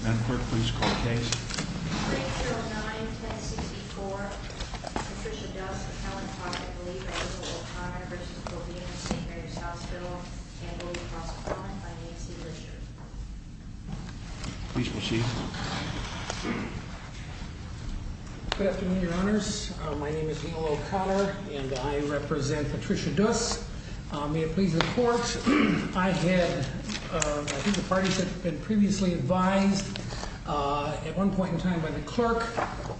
Manifort, please call the case. Case 09-1064, Patricia Duss, Appellant Project Lead by Michael O'Connor v. Provena St. Mary's Hospital, handled in cross-deployment by Nancy Lister. Please proceed. Good afternoon, Your Honors. My name is Michael O'Connor, and I represent Patricia Duss. May it please the Court, I had, I think the parties had been previously advised at one point in time by the clerk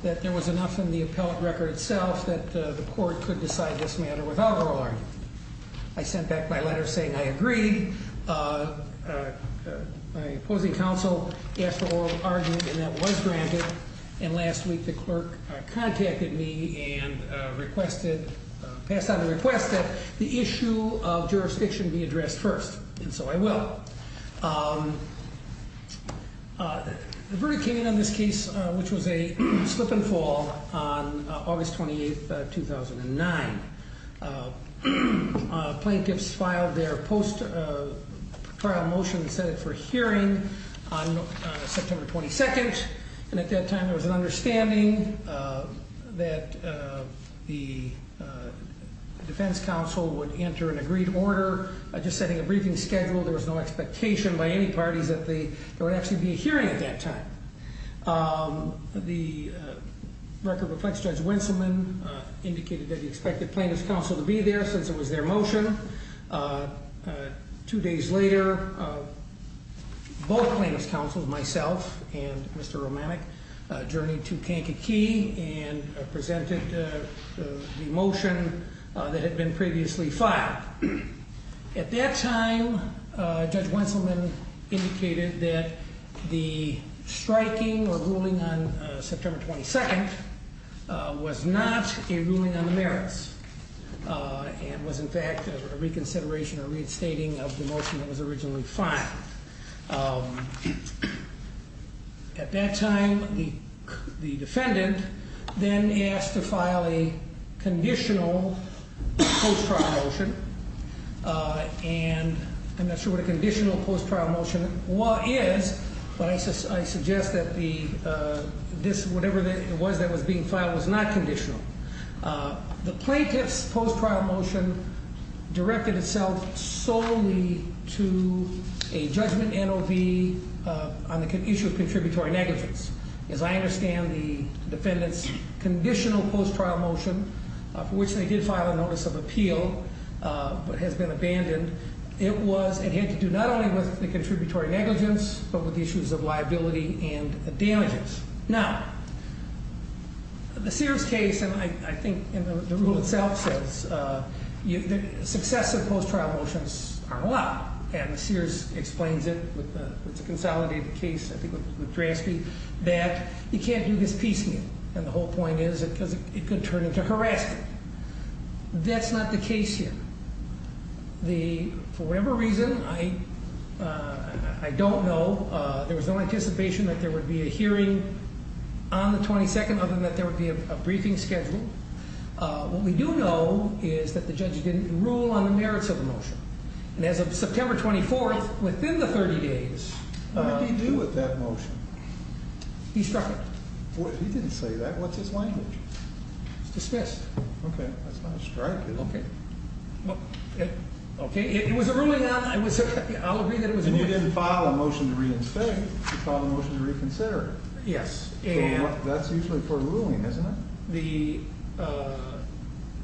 that there was enough in the appellate record itself that the court could decide this matter without oral argument. I sent back my letter saying I agreed. My opposing counsel asked for oral argument, and that was granted, and last week the clerk contacted me and requested, passed on the request that the issue of jurisdiction be addressed first, and so I will. The verdict came in on this case, which was a slip and fall on August 28th, 2009. Plaintiffs filed their post-trial motion and set it for hearing on September 22nd, and at that time there was an expectation that the defense counsel would enter an agreed order. Just setting a briefing schedule, there was no expectation by any parties that there would actually be a hearing at that time. The record reflects Judge Winselman indicated that he expected plaintiffs' counsel to be there since it was their motion. Two days later, both plaintiffs' counsels, myself and Mr. Romanek, journeyed to Kankakee and presented the motion that had been previously filed. At that time, Judge Winselman indicated that the striking or ruling on September 22nd was not a ruling on the merits and was in fact a reconsideration or restating of the motion that was originally filed. At that time, the defendant then asked to file a conditional post-trial motion, and I'm not sure what a conditional post-trial motion is, but I suggest that whatever it was that was being filed was not conditional. The plaintiff's post-trial motion directed itself solely to a judgment NOV on the issue of contributory negligence. As I understand the defendant's conditional post-trial motion, for which they did file a notice of appeal but has been abandoned, it had to do not only with the contributory negligence but with the issues of liability and damages. Now, the Sears case, and I think the rule itself says success of post-trial motions are allowed, and the Sears explains it with the consolidated case, I think with Drasky, that you can't do this piece here, and the whole point is it could turn into harassment. That's not the case here. For whatever reason, I don't know. There was no anticipation that there would be a hearing on the 22nd other than that there would be a briefing scheduled. What we do know is that the judge didn't rule on the merits of the motion, and as of September 24th, within the 30 days... What did he do with that motion? He struck it. He didn't say that. What's his language? It's dismissed. Okay. That's not a strike, is it? Okay. It was a ruling on... I'll agree that it was a ruling... And you didn't file a motion to reinstate. You filed a motion to reconsider. Yes. That's usually for a ruling, isn't it?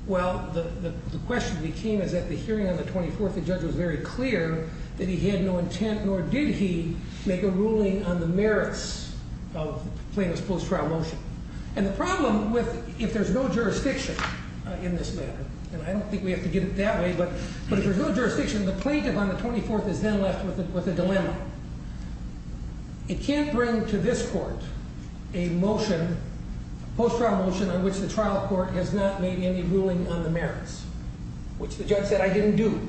Well, the question that came is that the hearing on the 24th, the judge was very clear that he had no intent, nor did he make a ruling on the merits of the plaintiff's post-trial motion. And the problem with... If there's no jurisdiction in this matter, and I don't think we have to get it that way, but if there's no jurisdiction, the plaintiff on the 24th is then left with a dilemma. It can't bring to this court a motion, a post-trial motion, on which the trial court has not made any ruling on the merits, which the judge said, I didn't do.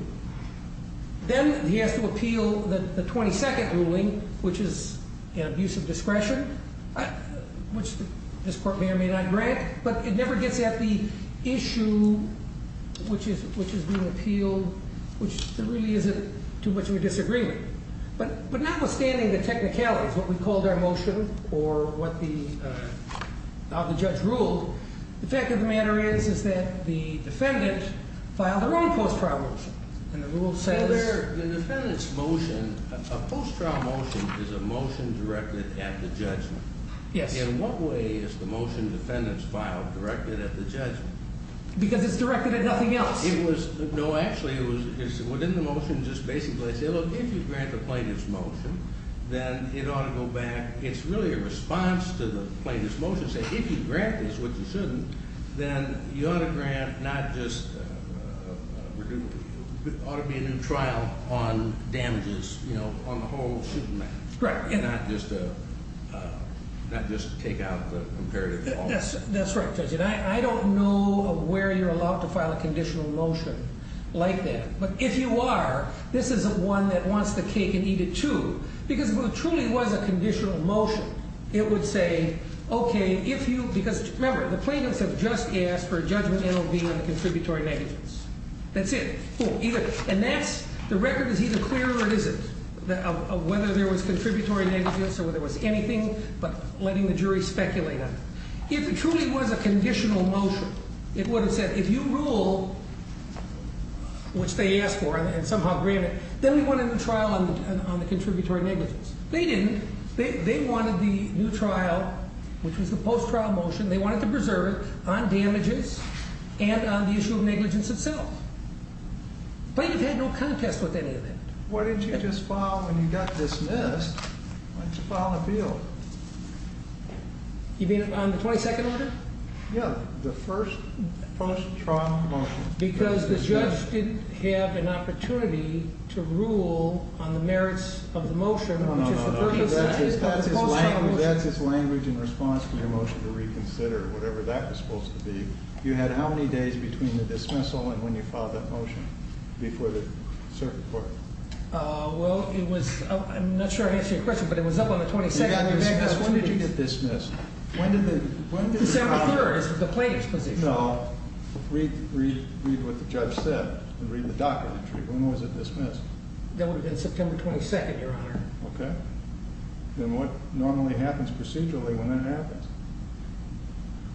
Then he has to appeal the 22nd ruling, which is an abuse of discretion, which this court may or may not grant, but it never gets at the issue which is being appealed, which there really isn't too much of a disagreement. But notwithstanding the technicalities, what we called our motion, or what the... how the judge ruled, the fact of the matter is that the defendant filed their own post-trial motion, and the rule says... The defendant's motion, a post-trial motion, is a motion directed at the judgment. Yes. In what way is the motion the defendant's filed directed at the judgment? Because it's directed at nothing else. No, actually, it's within the motion, and the motion just basically says, look, if you grant the plaintiff's motion, then it ought to go back. It's really a response to the plaintiff's motion, saying, if you grant this, which you shouldn't, then you ought to grant not just... There ought to be a new trial on damages, you know, on the whole suit in that. Correct. And not just take out the imperative at all. That's right, Judge, and I don't know where you're allowed to file a conditional motion like that, but if you are, this is one that wants the cake and eat it, too. Because if it truly was a conditional motion, it would say, okay, if you... Because, remember, the plaintiffs have just asked for a judgment NLV on the contributory negligence. That's it. And that's... The record is either clear or it isn't of whether there was contributory negligence or whether there was anything, but letting the jury speculate on it. If it truly was a conditional motion, it would have said, if you rule, which they asked for, and somehow granted, then we want a new trial on the contributory negligence. They didn't. They wanted the new trial, which was the post-trial motion, they wanted to preserve it on damages and on the issue of negligence itself. Plaintiffs had no contest with any of that. Why didn't you just file when you got dismissed? Why didn't you file an appeal? You mean on the 22nd order? Yeah, the first post-trial motion. Because the judge didn't have an opportunity to rule on the merits of the motion... No, no, no. That's his language in response to your motion to reconsider whatever that was supposed to be. You had how many days between the dismissal and when you filed that motion before the circuit court? Well, it was... I'm not sure I answered your question, but it was up on the 22nd. When did you get dismissed? When did the... December 3rd is the plaintiff's position. No. Read what the judge said. Read the docket entry. When was it dismissed? That would have been September 22nd, Your Honor. Okay. Then what normally happens procedurally when that happens?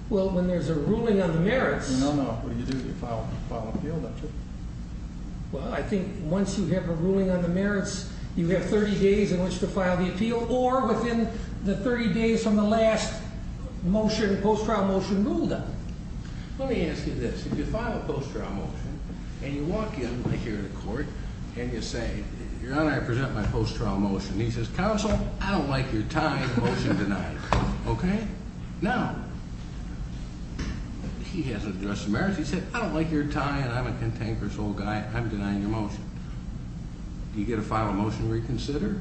Well, when there's a ruling on the merits... No, no. What do you do? You file an appeal, don't you? Well, I think once you have a ruling on the merits, you have 30 days in which to file the appeal or within the 30 days from the last motion, post-trial motion ruled on. Let me ask you this. If you file a post-trial motion and you walk in right here in the court and you say, Your Honor, I present my post-trial motion. He says, Counsel, I don't like your tying motion denied. Okay? Now, he hasn't addressed the merits. He said, I don't like your tying. I'm a cantankerous old guy. I'm denying your motion. Do you get a final motion to reconsider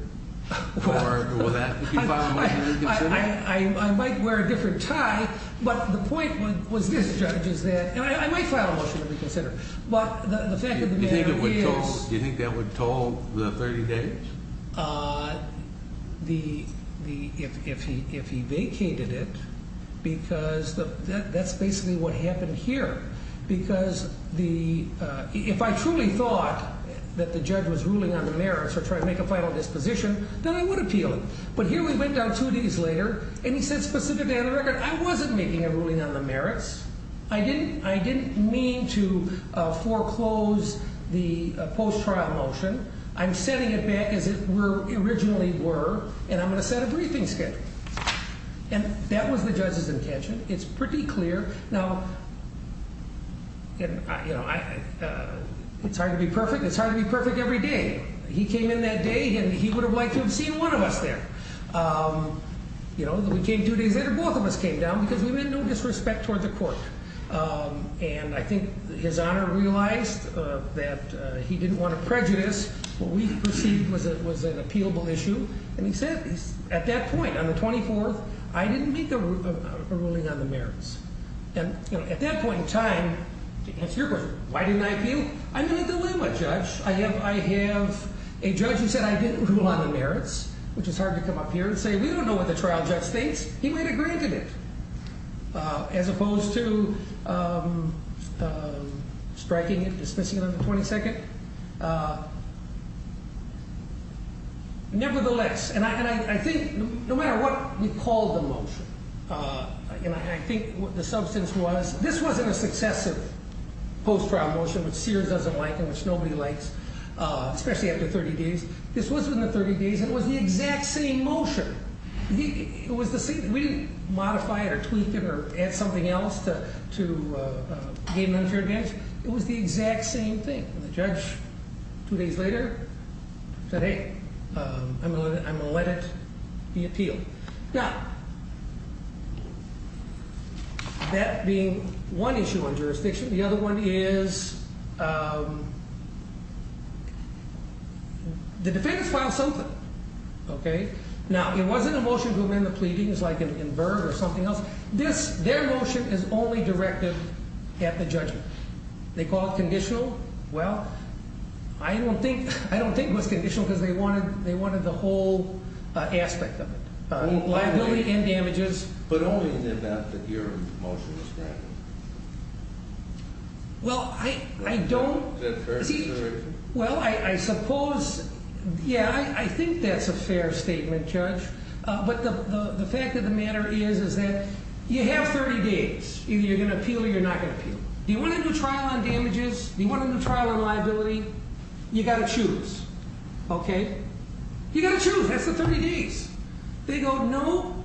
or will that be a final motion to reconsider? I might wear a different tie, but the point was this, Judge, is that I might file a motion to reconsider, but the fact of the matter is... Do you think that would toll the 30 days? If he vacated it, because that's basically what happened here, because if I truly thought that the judge was ruling on the merits or trying to make a final disposition, then I would appeal it. But here we went down two days later, and he said specifically on the record, I wasn't making a ruling on the merits. I didn't mean to foreclose the post-trial motion. I'm setting it back as it originally were, and I'm going to set a briefing schedule. And that was the judge's intention. It's pretty clear. Now, it's hard to be perfect. It's hard to be perfect every day. He came in that day, and he would have liked to have seen one of us there. You know, we came two days later. Both of us came down, because we meant no disrespect toward the court. And I think His Honor realized that he didn't want to prejudice. What we perceived was an appealable issue. And he said, at that point, on the 24th, I didn't make a ruling on the merits. And, you know, at that point in time, to answer your question, why didn't I appeal? I'm in a dilemma, Judge. I have a judge who said I didn't rule on the merits, which is hard to come up here and say, we don't know what the trial judge thinks. He might have granted it, as opposed to striking it, dismissing it on the 22nd. Nevertheless, and I think no matter what we call the motion, and I think the substance was, this wasn't a successive post-trial motion, which Sears doesn't like and which nobody likes, especially after 30 days. This was within the 30 days, and it was the exact same motion. We didn't modify it or tweak it or add something else to gain an unfair advantage. It was the exact same thing. And the judge, two days later, said, hey, I'm going to let it be appealed. Now, that being one issue on jurisdiction, the other one is the defendants filed something. Now, it wasn't a motion to amend the pleadings like an invert or something else. Their motion is only directed at the judgment. They call it conditional. Well, I don't think it was conditional because they wanted the whole aspect of it, liability and damages. But only in the event that your motion was directed. Well, I don't. Is that a fair situation? Well, I suppose, yeah, I think that's a fair statement, Judge. But the fact of the matter is that you have 30 days. Either you're going to appeal or you're not going to appeal. Do you want to do a trial on damages? Do you want to do a trial on liability? You've got to choose, okay? You've got to choose. That's the 30 days. They go, no.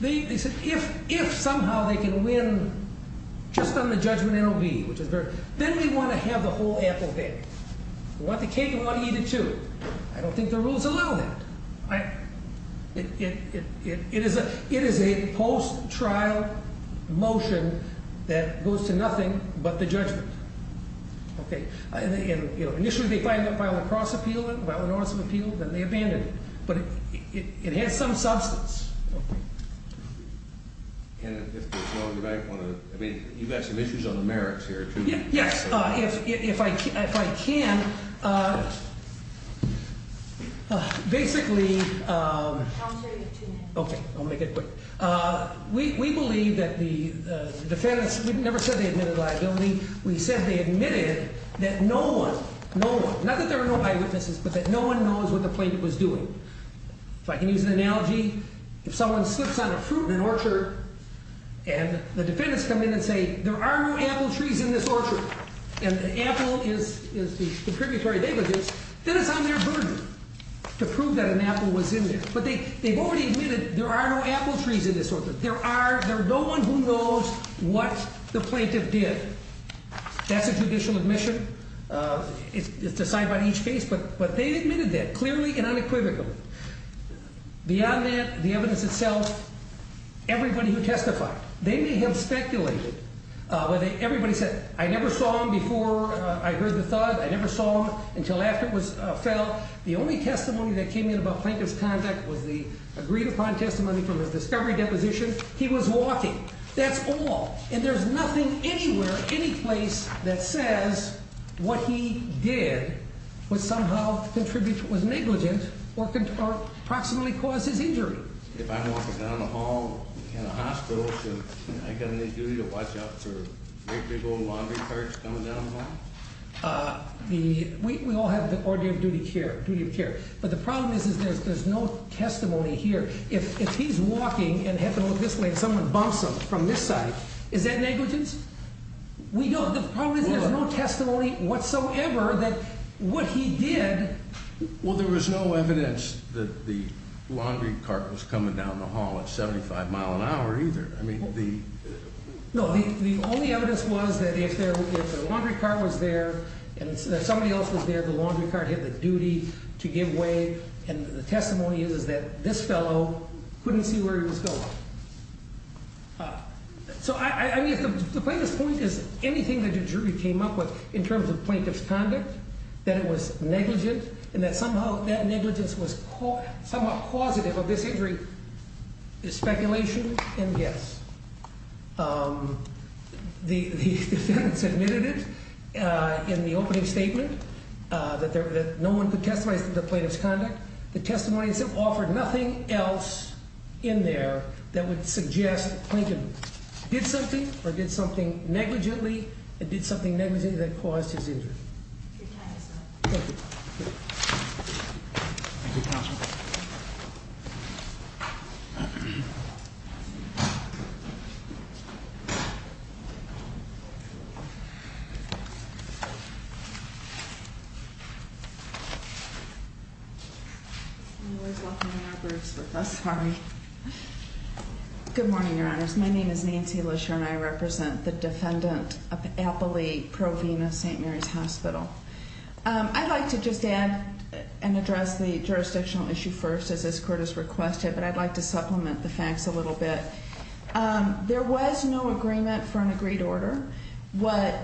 They said, if somehow they can win just on the judgment NOB, which is very... Then we want to have the whole apple there. We want the cake and we want to eat it too. I don't think the rules allow that. It is a post-trial motion that goes to nothing but the judgment. Okay. And, you know, initially they filed it by a lacrosse appeal, by an order of appeal. Then they abandoned it. But it has some substance. Okay. And if there's no other, I want to... I mean, you've got some issues on the merits here too. Yes. If I can, basically... Counselor, you have two minutes. Okay. I'll make it quick. We believe that the defense... We never said they admitted liability. We said they admitted that no one, no one, not that there are no eyewitnesses, but that no one knows what the plaintiff was doing. If I can use an analogy, if someone slips on a fruit in an orchard and the defendants come in and say, there are no apple trees in this orchard, and the apple is the predatory negligence, then it's on their burden to prove that an apple was in there. But they've already admitted there are no apple trees in this orchard. There are no one who knows what the plaintiff did. That's a judicial admission. It's decided by each case. But they admitted that clearly and unequivocally. Beyond that, the evidence itself, everybody who testified, they may have speculated. Everybody said, I never saw him before I heard the thud. I never saw him until after it fell. The only testimony that came in about Plaintiff's conduct was the agreed-upon testimony from his discovery deposition. He was walking. That's all. And there's nothing anywhere, any place, that says what he did was somehow negligent or could approximately cause his injury. If I'm walking down the hall in a hospital, should I get any duty to watch out for big old laundry carts coming down the hall? We all have the order of duty of care. But the problem is there's no testimony here. If he's walking and had to look this way and someone bumps him from this side, is that negligence? The problem is there's no testimony whatsoever that what he did. Well, there was no evidence that the laundry cart was coming down the hall at 75 mile an hour either. No, the only evidence was that if the laundry cart was there and somebody else was there, the laundry cart had the duty to give way, and the testimony is that this fellow couldn't see where he was going. So, I mean, the plaintiff's point is anything the jury came up with in terms of plaintiff's conduct, that it was negligent and that somehow that negligence was somehow causative of this injury is speculation and guess. The defendants admitted it in the opening statement that no one could testify to the plaintiff's conduct. The testimony offered nothing else in there that would suggest the plaintiff did something or did something negligently and did something negligently that caused his injury. Thank you, counsel. I'm always walking in our groups with us, sorry. Good morning, Your Honors. My name is Nancy Lesher, and I represent the defendant of Appley Provena St. Mary's Hospital. I'd like to just add and address the jurisdictional issue first, as this Court has requested, but I'd like to supplement the facts a little bit. There was no agreement for an agreed order. What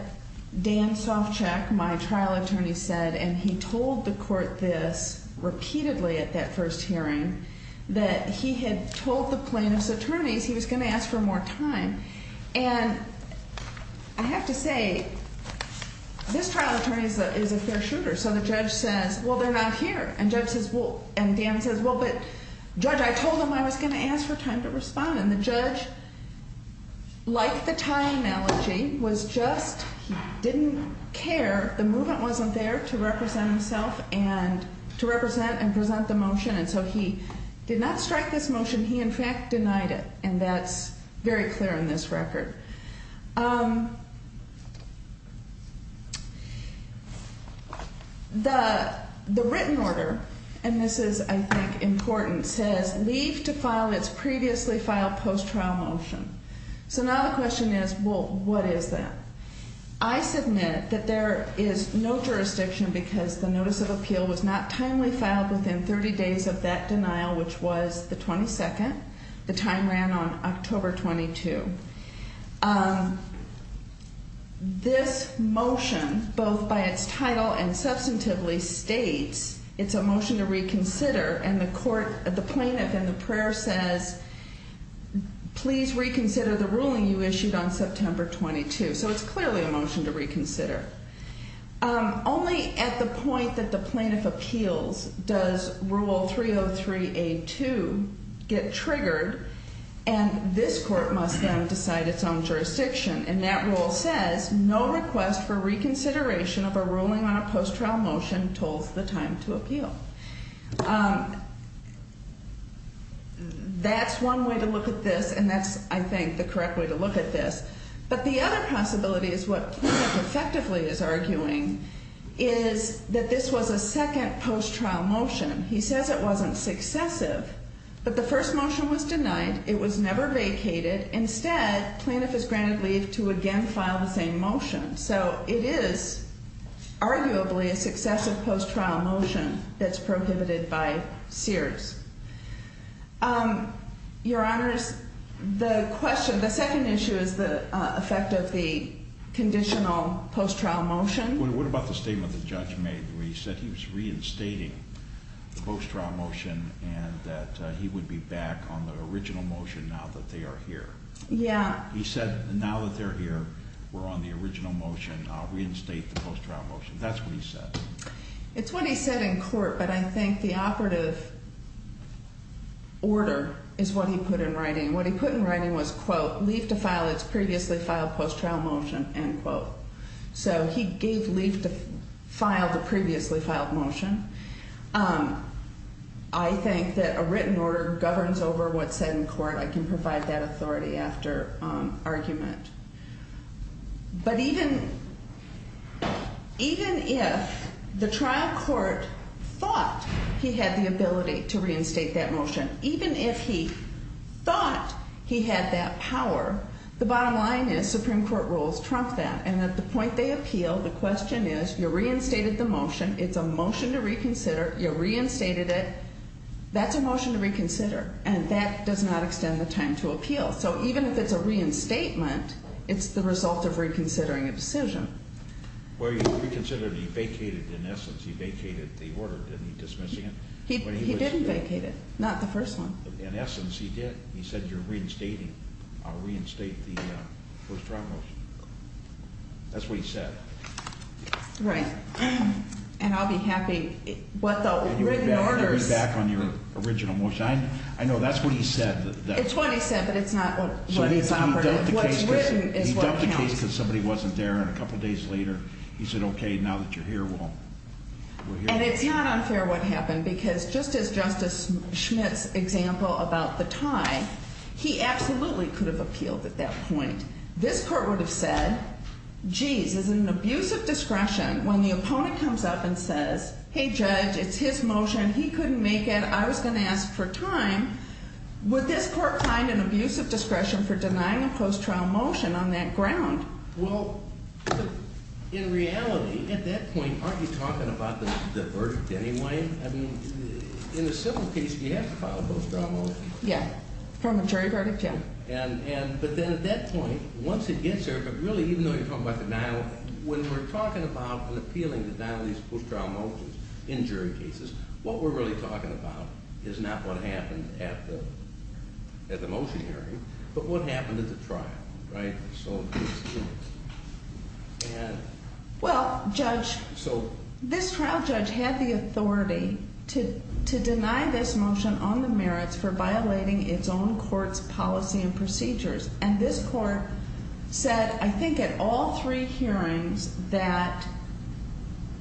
Dan Sovchak, my trial attorney, said, and he told the Court this repeatedly at that first hearing, that he had told the plaintiff's attorneys he was going to ask for more time. And I have to say, this trial attorney is a fair shooter, so the judge says, well, they're not here. And Dan says, well, but Judge, I told them I was going to ask for time to respond. And the judge, like the time analogy, was just didn't care. The movement wasn't there to represent himself and to represent and present the motion, and so he did not strike this motion. He, in fact, denied it, and that's very clear in this record. The written order, and this is, I think, important, says, leave to file its previously filed post-trial motion. So now the question is, well, what is that? I submit that there is no jurisdiction because the notice of appeal was not timely filed within 30 days of that denial, which was the 22nd. The time ran on October 22. This motion, both by its title and substantively, states it's a motion to reconsider, and the plaintiff in the prayer says, please reconsider the ruling you issued on September 22. So it's clearly a motion to reconsider. Only at the point that the plaintiff appeals does Rule 303A2 get triggered, and this court must then decide its own jurisdiction. And that rule says, no request for reconsideration of a ruling on a post-trial motion tolls the time to appeal. That's one way to look at this, and that's, I think, the correct way to look at this. But the other possibility is what the plaintiff effectively is arguing, is that this was a second post-trial motion. He says it wasn't successive, but the first motion was denied. It was never vacated. Instead, plaintiff is granted leave to again file the same motion. So it is arguably a successive post-trial motion that's prohibited by Sears. Your Honors, the question, the second issue is the effect of the conditional post-trial motion. What about the statement the judge made where he said he was reinstating the post-trial motion and that he would be back on the original motion now that they are here? Yeah. He said now that they're here, we're on the original motion. I'll reinstate the post-trial motion. That's what he said. It's what he said in court, but I think the operative order is what he put in writing. What he put in writing was, quote, leave to file its previously filed post-trial motion, end quote. So he gave leave to file the previously filed motion. I think that a written order governs over what's said in court. I can provide that authority after argument. But even if the trial court thought he had the ability to reinstate that motion, even if he thought he had that power, the bottom line is Supreme Court rules trump that. And at the point they appeal, the question is you reinstated the motion. It's a motion to reconsider. You reinstated it. That's a motion to reconsider, and that does not extend the time to appeal. So even if it's a reinstatement, it's the result of reconsidering a decision. Well, he reconsidered. He vacated, in essence. He vacated the order. Didn't he dismiss it? He didn't vacate it, not the first one. In essence, he did. He said you're reinstating. I'll reinstate the post-trial motion. That's what he said. Right. And I'll be happy what the written order is. Can you read back on your original motion? I know that's what he said. It's what he said, but it's not what is operative. What's written is what counts. He dumped the case because somebody wasn't there, and a couple days later he said, okay, now that you're here, well, we're here. And it's not unfair what happened, because just as Justice Schmitt's example about the tie, he absolutely could have appealed at that point. This court would have said, geez, this is an abuse of discretion. When the opponent comes up and says, hey, Judge, it's his motion, he couldn't make it, I was going to ask for time, would this court find an abuse of discretion for denying a post-trial motion on that ground? Well, in reality, at that point, aren't you talking about the verdict anyway? I mean, in a civil case, you have to file a post-trial motion. Yeah. From a jury verdict, yeah. But then at that point, once it gets there, but really, even though you're talking about denial, when we're talking about and appealing to denial of these post-trial motions in jury cases, what we're really talking about is not what happened at the motion hearing, but what happened at the trial, right? Well, Judge, this trial judge had the authority to deny this motion on the merits for violating its own court's policy and procedures. And this court said, I think at all three hearings, that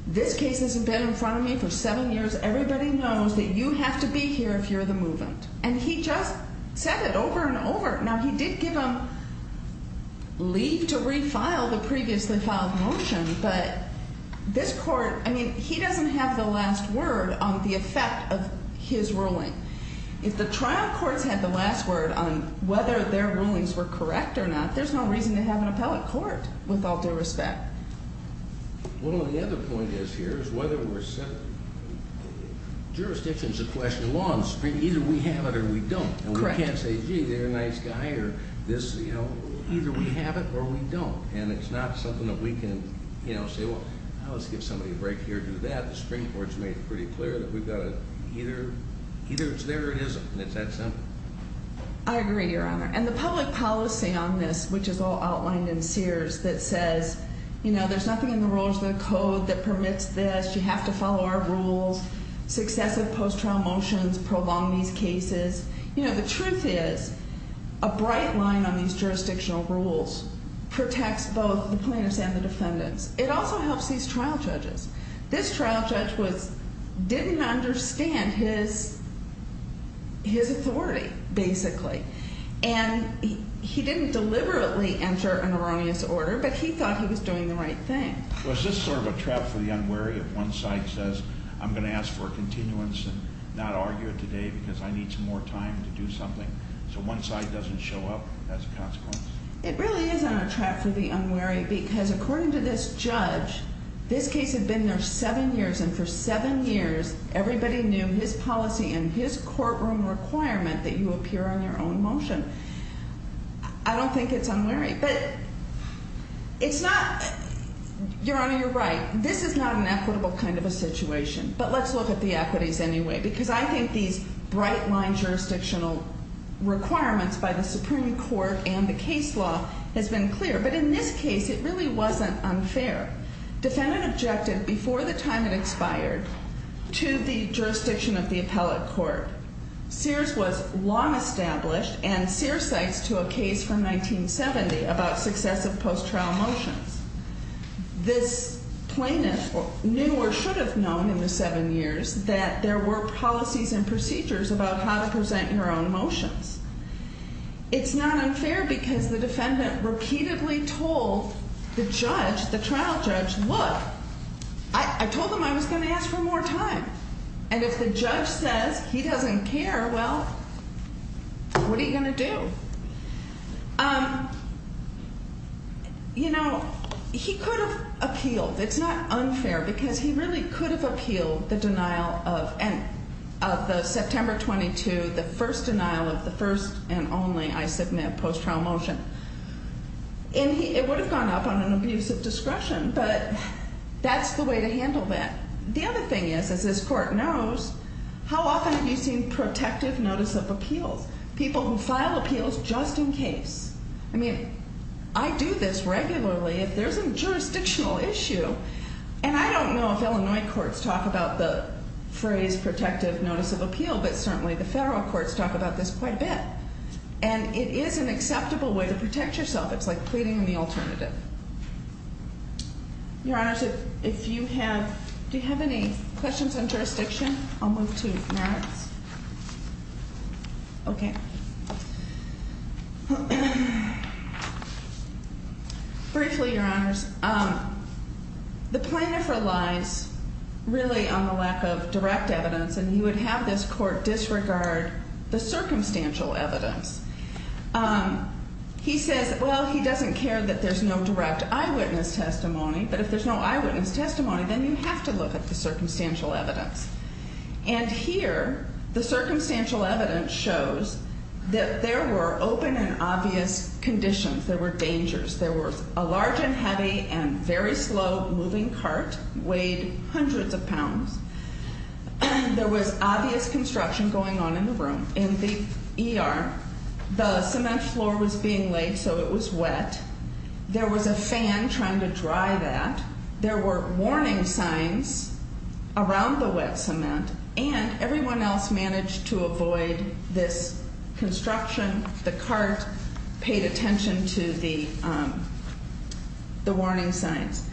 this case has been in front of me for seven years, everybody knows that you have to be here if you're the move-in. And he just said it over and over. Now, he did give them leave to refile the previously filed motion, but this court, I mean, he doesn't have the last word on the effect of his ruling. If the trial courts had the last word on whether their rulings were correct or not, there's no reason to have an appellate court with all due respect. Well, the other point is here is whether we're set up. Jurisdiction is a question of law and the Supreme Court. Either we have it or we don't. Correct. And we can't say, gee, they're a nice guy or this, you know, either we have it or we don't. And it's not something that we can, you know, say, well, let's give somebody a break here and do that. The Supreme Court has made it pretty clear that we've got to either it's there or it isn't. And it's that simple. I agree, Your Honor. And the public policy on this, which is all outlined in Sears, that says, you know, there's nothing in the rules of the code that permits this. You have to follow our rules. Successive post-trial motions prolong these cases. You know, the truth is a bright line on these jurisdictional rules protects both the plaintiffs and the defendants. It also helps these trial judges. This trial judge didn't understand his authority, basically. And he didn't deliberately enter an erroneous order, but he thought he was doing the right thing. So is this sort of a trap for the unwary if one side says, I'm going to ask for a continuance and not argue today because I need some more time to do something, so one side doesn't show up as a consequence? It really is a trap for the unwary because, according to this judge, this case had been there seven years, and for seven years, everybody knew his policy and his courtroom requirement that you appear on your own motion. I don't think it's unwary. But it's not, Your Honor, you're right. This is not an equitable kind of a situation. But let's look at the equities anyway because I think these bright-line jurisdictional requirements by the Supreme Court and the case law has been clear. But in this case, it really wasn't unfair. Defendant objected before the time it expired to the jurisdiction of the appellate court. Sears was long established, and Sears cites to a case from 1970 about successive post-trial motions. This plaintiff knew or should have known in the seven years that there were policies and procedures about how to present your own motions. It's not unfair because the defendant repeatedly told the judge, the trial judge, look, I told him I was going to ask for more time. And if the judge says he doesn't care, well, what are you going to do? You know, he could have appealed. It's not unfair because he really could have appealed the denial of the September 22, the first denial of the first and only I submit post-trial motion. And it would have gone up on an abuse of discretion, but that's the way to handle that. The other thing is, as this court knows, how often have you seen protective notice of appeals? People who file appeals just in case. I mean, I do this regularly. If there's a jurisdictional issue, and I don't know if Illinois courts talk about the phrase but federal courts talk about this quite a bit, and it is an acceptable way to protect yourself. It's like pleading the alternative. Your Honors, if you have, do you have any questions on jurisdiction? I'll move to merits. Okay. Briefly, Your Honors, the plaintiff relies really on the lack of direct evidence, and he would have this court disregard the circumstantial evidence. He says, well, he doesn't care that there's no direct eyewitness testimony, but if there's no eyewitness testimony, then you have to look at the circumstantial evidence. And here the circumstantial evidence shows that there were open and obvious conditions. There were dangers. There was a large and heavy and very slow moving cart, weighed hundreds of pounds. There was obvious construction going on in the room. In the ER, the cement floor was being laid, so it was wet. There was a fan trying to dry that. There were warning signs around the wet cement, and everyone else managed to avoid this construction. The cart paid attention to the warning signs.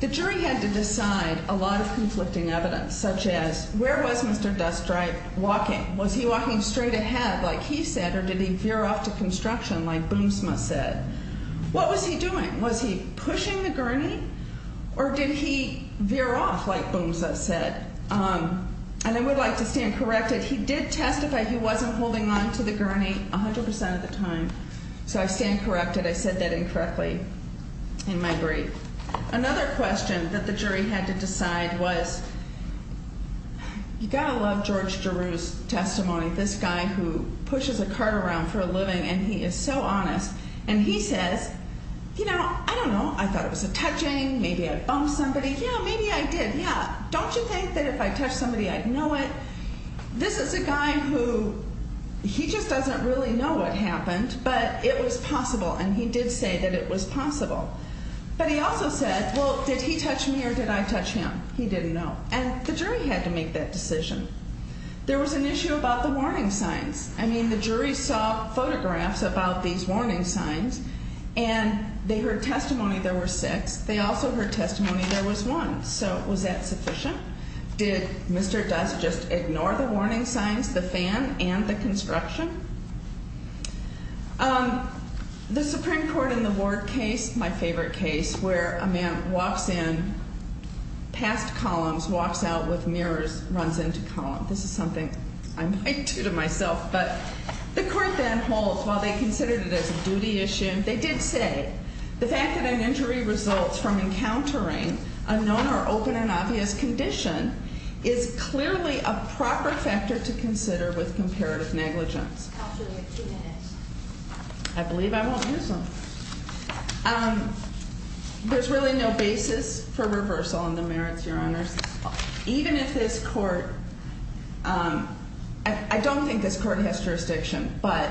The jury had to decide a lot of conflicting evidence, such as where was Mr. Dustright walking? Was he walking straight ahead like he said, or did he veer off to construction like Boomsma said? What was he doing? Was he pushing the gurney, or did he veer off like Boomsma said? And I would like to stand corrected. He did testify he wasn't holding on to the gurney 100% of the time, so I stand corrected. I said that incorrectly in my brief. Another question that the jury had to decide was you've got to love George Giroux's testimony, this guy who pushes a cart around for a living, and he is so honest. And he says, you know, I don't know. I thought it was a touching. Maybe I bumped somebody. Yeah, maybe I did. Yeah. Don't you think that if I touched somebody, I'd know it? This is a guy who he just doesn't really know what happened, but it was possible, and he did say that it was possible. But he also said, well, did he touch me or did I touch him? He didn't know. And the jury had to make that decision. There was an issue about the warning signs. I mean, the jury saw photographs about these warning signs, and they heard testimony there were six. They also heard testimony there was one. So was that sufficient? Did Mr. Dust just ignore the warning signs, the fan, and the construction? The Supreme Court in the Ward case, my favorite case, where a man walks in, passed columns, walks out with mirrors, runs into columns. This is something I might do to myself. But the court then holds, while they considered it as a duty issue, they did say the fact that an injury results from encountering a known or open and obvious condition is clearly a proper factor to consider with comparative negligence. Counsel, you have two minutes. I believe I won't use them. There's really no basis for reversal on the merits, Your Honors. Even if this court, I don't think this court has jurisdiction, but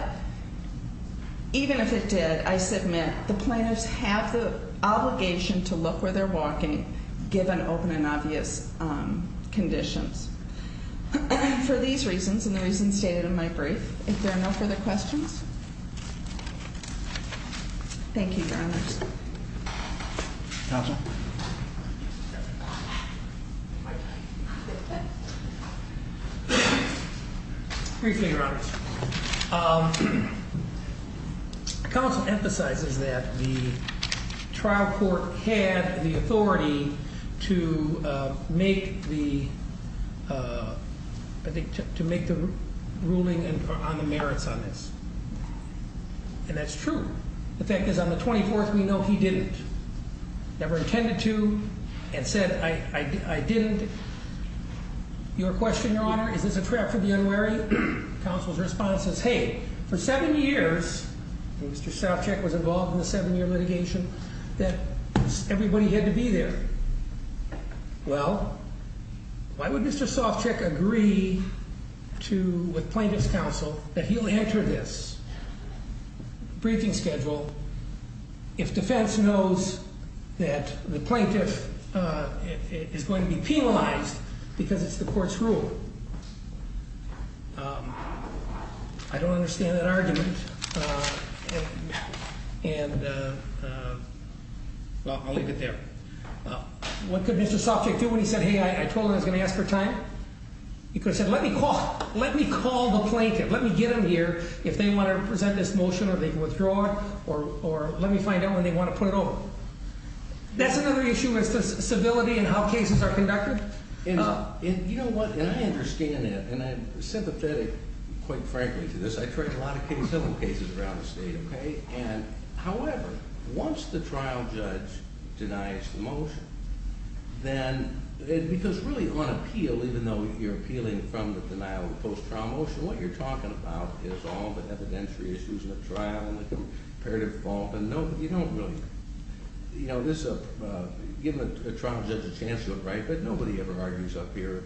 even if it did, I submit, the plaintiffs have the obligation to look where they're walking, given open and obvious conditions. For these reasons, and the reasons stated in my brief, if there are no further questions? Thank you, Your Honors. Counsel? Briefly, Your Honors. Counsel emphasizes that the trial court had the authority to make the ruling on the merits on this. And that's true. The fact is, on the 24th, we know he didn't. Never intended to and said, I didn't. Your question, Your Honor, is this a trap for the unwary? Counsel's response is, hey, for seven years, Mr. Sopcich was involved in the seven-year litigation, that everybody had to be there. Well, why would Mr. Sopcich agree with plaintiff's counsel that he'll enter this briefing schedule if defense knows that the plaintiff is going to be penalized because it's the court's rule? I don't understand that argument. And I'll leave it there. What could Mr. Sopcich do when he said, hey, I told him I was going to ask for time? He could have said, let me call the plaintiff, let me get him here if they want to present this motion or they can withdraw it, or let me find out when they want to put it over. That's another issue as to civility and how cases are conducted? You know what, and I understand that, and I'm sympathetic, quite frankly, to this. I've tried a lot of cases, several cases around the state, okay? And, however, once the trial judge denies the motion, then, because really on appeal, even though you're appealing from the denial of the post-trial motion, what you're talking about is all the evidentiary issues in the trial and the comparative fault. And you don't really, you know, this is a, given a trial judge a chance to do it right, but nobody ever argues up here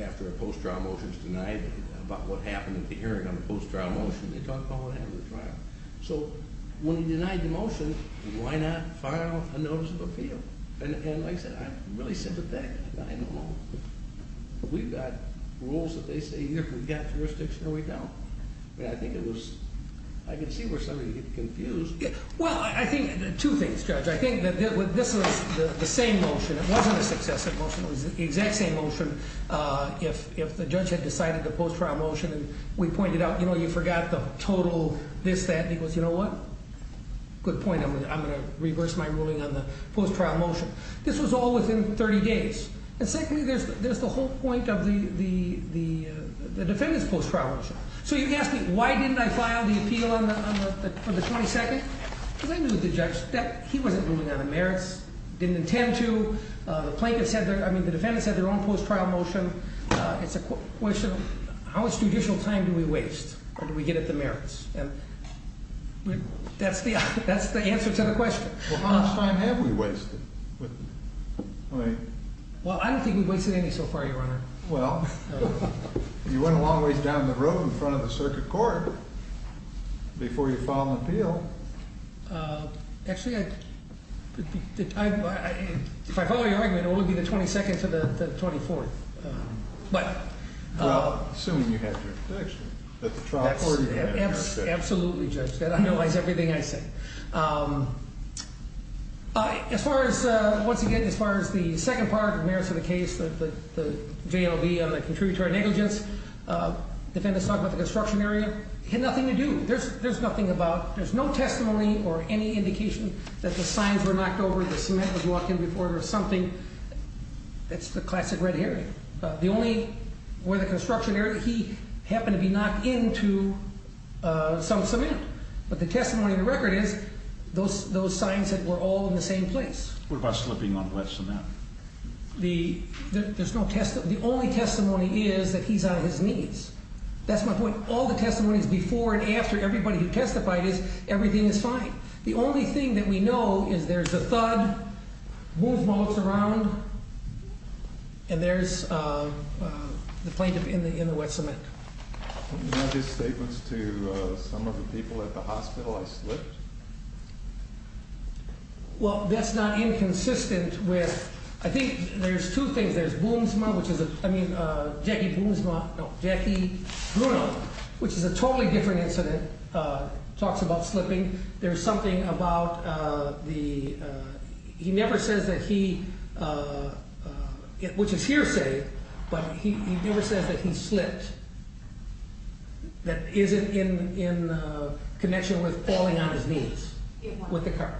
after a post-trial motion is denied about what happened at the hearing on the post-trial motion. They talk about what happened at the trial. So when he denied the motion, why not file a notice of appeal? And, like I said, I'm really sympathetic. I don't know. We've got rules that they say either we've got jurisdiction or we don't. But I think it was, I can see where some of you get confused. Well, I think, two things, Judge. I think that this was the same motion. It wasn't a successive motion. It was the exact same motion. If the judge had decided the post-trial motion and we pointed out, you know, you forgot the total this, that, and he goes, you know what? Good point. I'm going to reverse my ruling on the post-trial motion. This was all within 30 days. And secondly, there's the whole point of the defendant's post-trial motion. So you're asking, why didn't I file the appeal on the 22nd? Because I knew the judge, he wasn't ruling on the merits, didn't intend to. The plaintiff said, I mean, the defendant said their own post-trial motion. It's a question of how much judicial time do we waste or do we get at the merits? And that's the answer to the question. Well, how much time have we wasted? Well, I don't think we've wasted any so far, Your Honor. Well, you went a long ways down the road in front of the circuit court before you filed an appeal. Actually, if I follow your argument, it will only be the 22nd to the 24th. Well, assuming you had your protection. Absolutely, Judge. That underlines everything I said. As far as, once again, as far as the second part, the merits of the case, the JLV on the contributory negligence, the defendant's talking about the construction area, had nothing to do, there's nothing about, there's no testimony or any indication that the signs were knocked over, the cement was walked in before or something. That's the classic red herring. The only, where the construction area, he happened to be knocked into some cement. But the testimony in the record is those signs that were all in the same place. What about slipping on wet cement? There's no testimony. The only testimony is that he's on his knees. That's my point. All the testimony is before and after. Everybody who testified is, everything is fine. The only thing that we know is there's a thud, Boomsma looks around, and there's the plaintiff in the wet cement. Do you have any statements to some of the people at the hospital that slipped? Well, that's not inconsistent with, I think there's two things. There's Boomsma, which is, I mean, Jackie Boomsma, no, Jackie Bruno, which is a totally different incident, talks about slipping. There's something about the, he never says that he, which is hearsay, but he never says that he slipped that isn't in connection with falling on his knees with the car.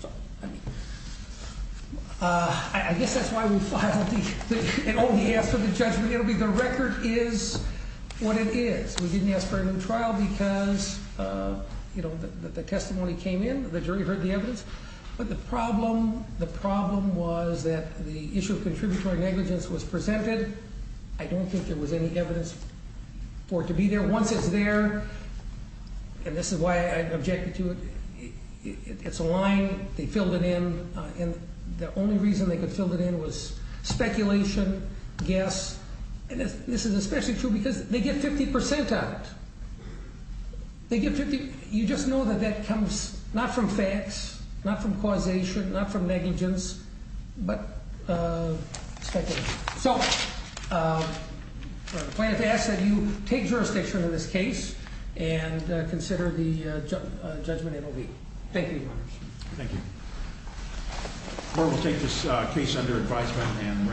So, I mean, I guess that's why we filed and only asked for the judgment. It'll be the record is what it is. We didn't ask for a new trial because the testimony came in, the jury heard the evidence. But the problem was that the issue of contributory negligence was presented. I don't think there was any evidence for it to be there. But once it's there, and this is why I objected to it, it's a line, they filled it in, and the only reason they could fill it in was speculation, guess. And this is especially true because they get 50% on it. They get 50, you just know that that comes not from facts, not from causation, not from negligence, but speculation. So, I plan to ask that you take jurisdiction in this case and consider the judgment it will be. Thank you, Your Honors. Thank you. We will take this case under advisement.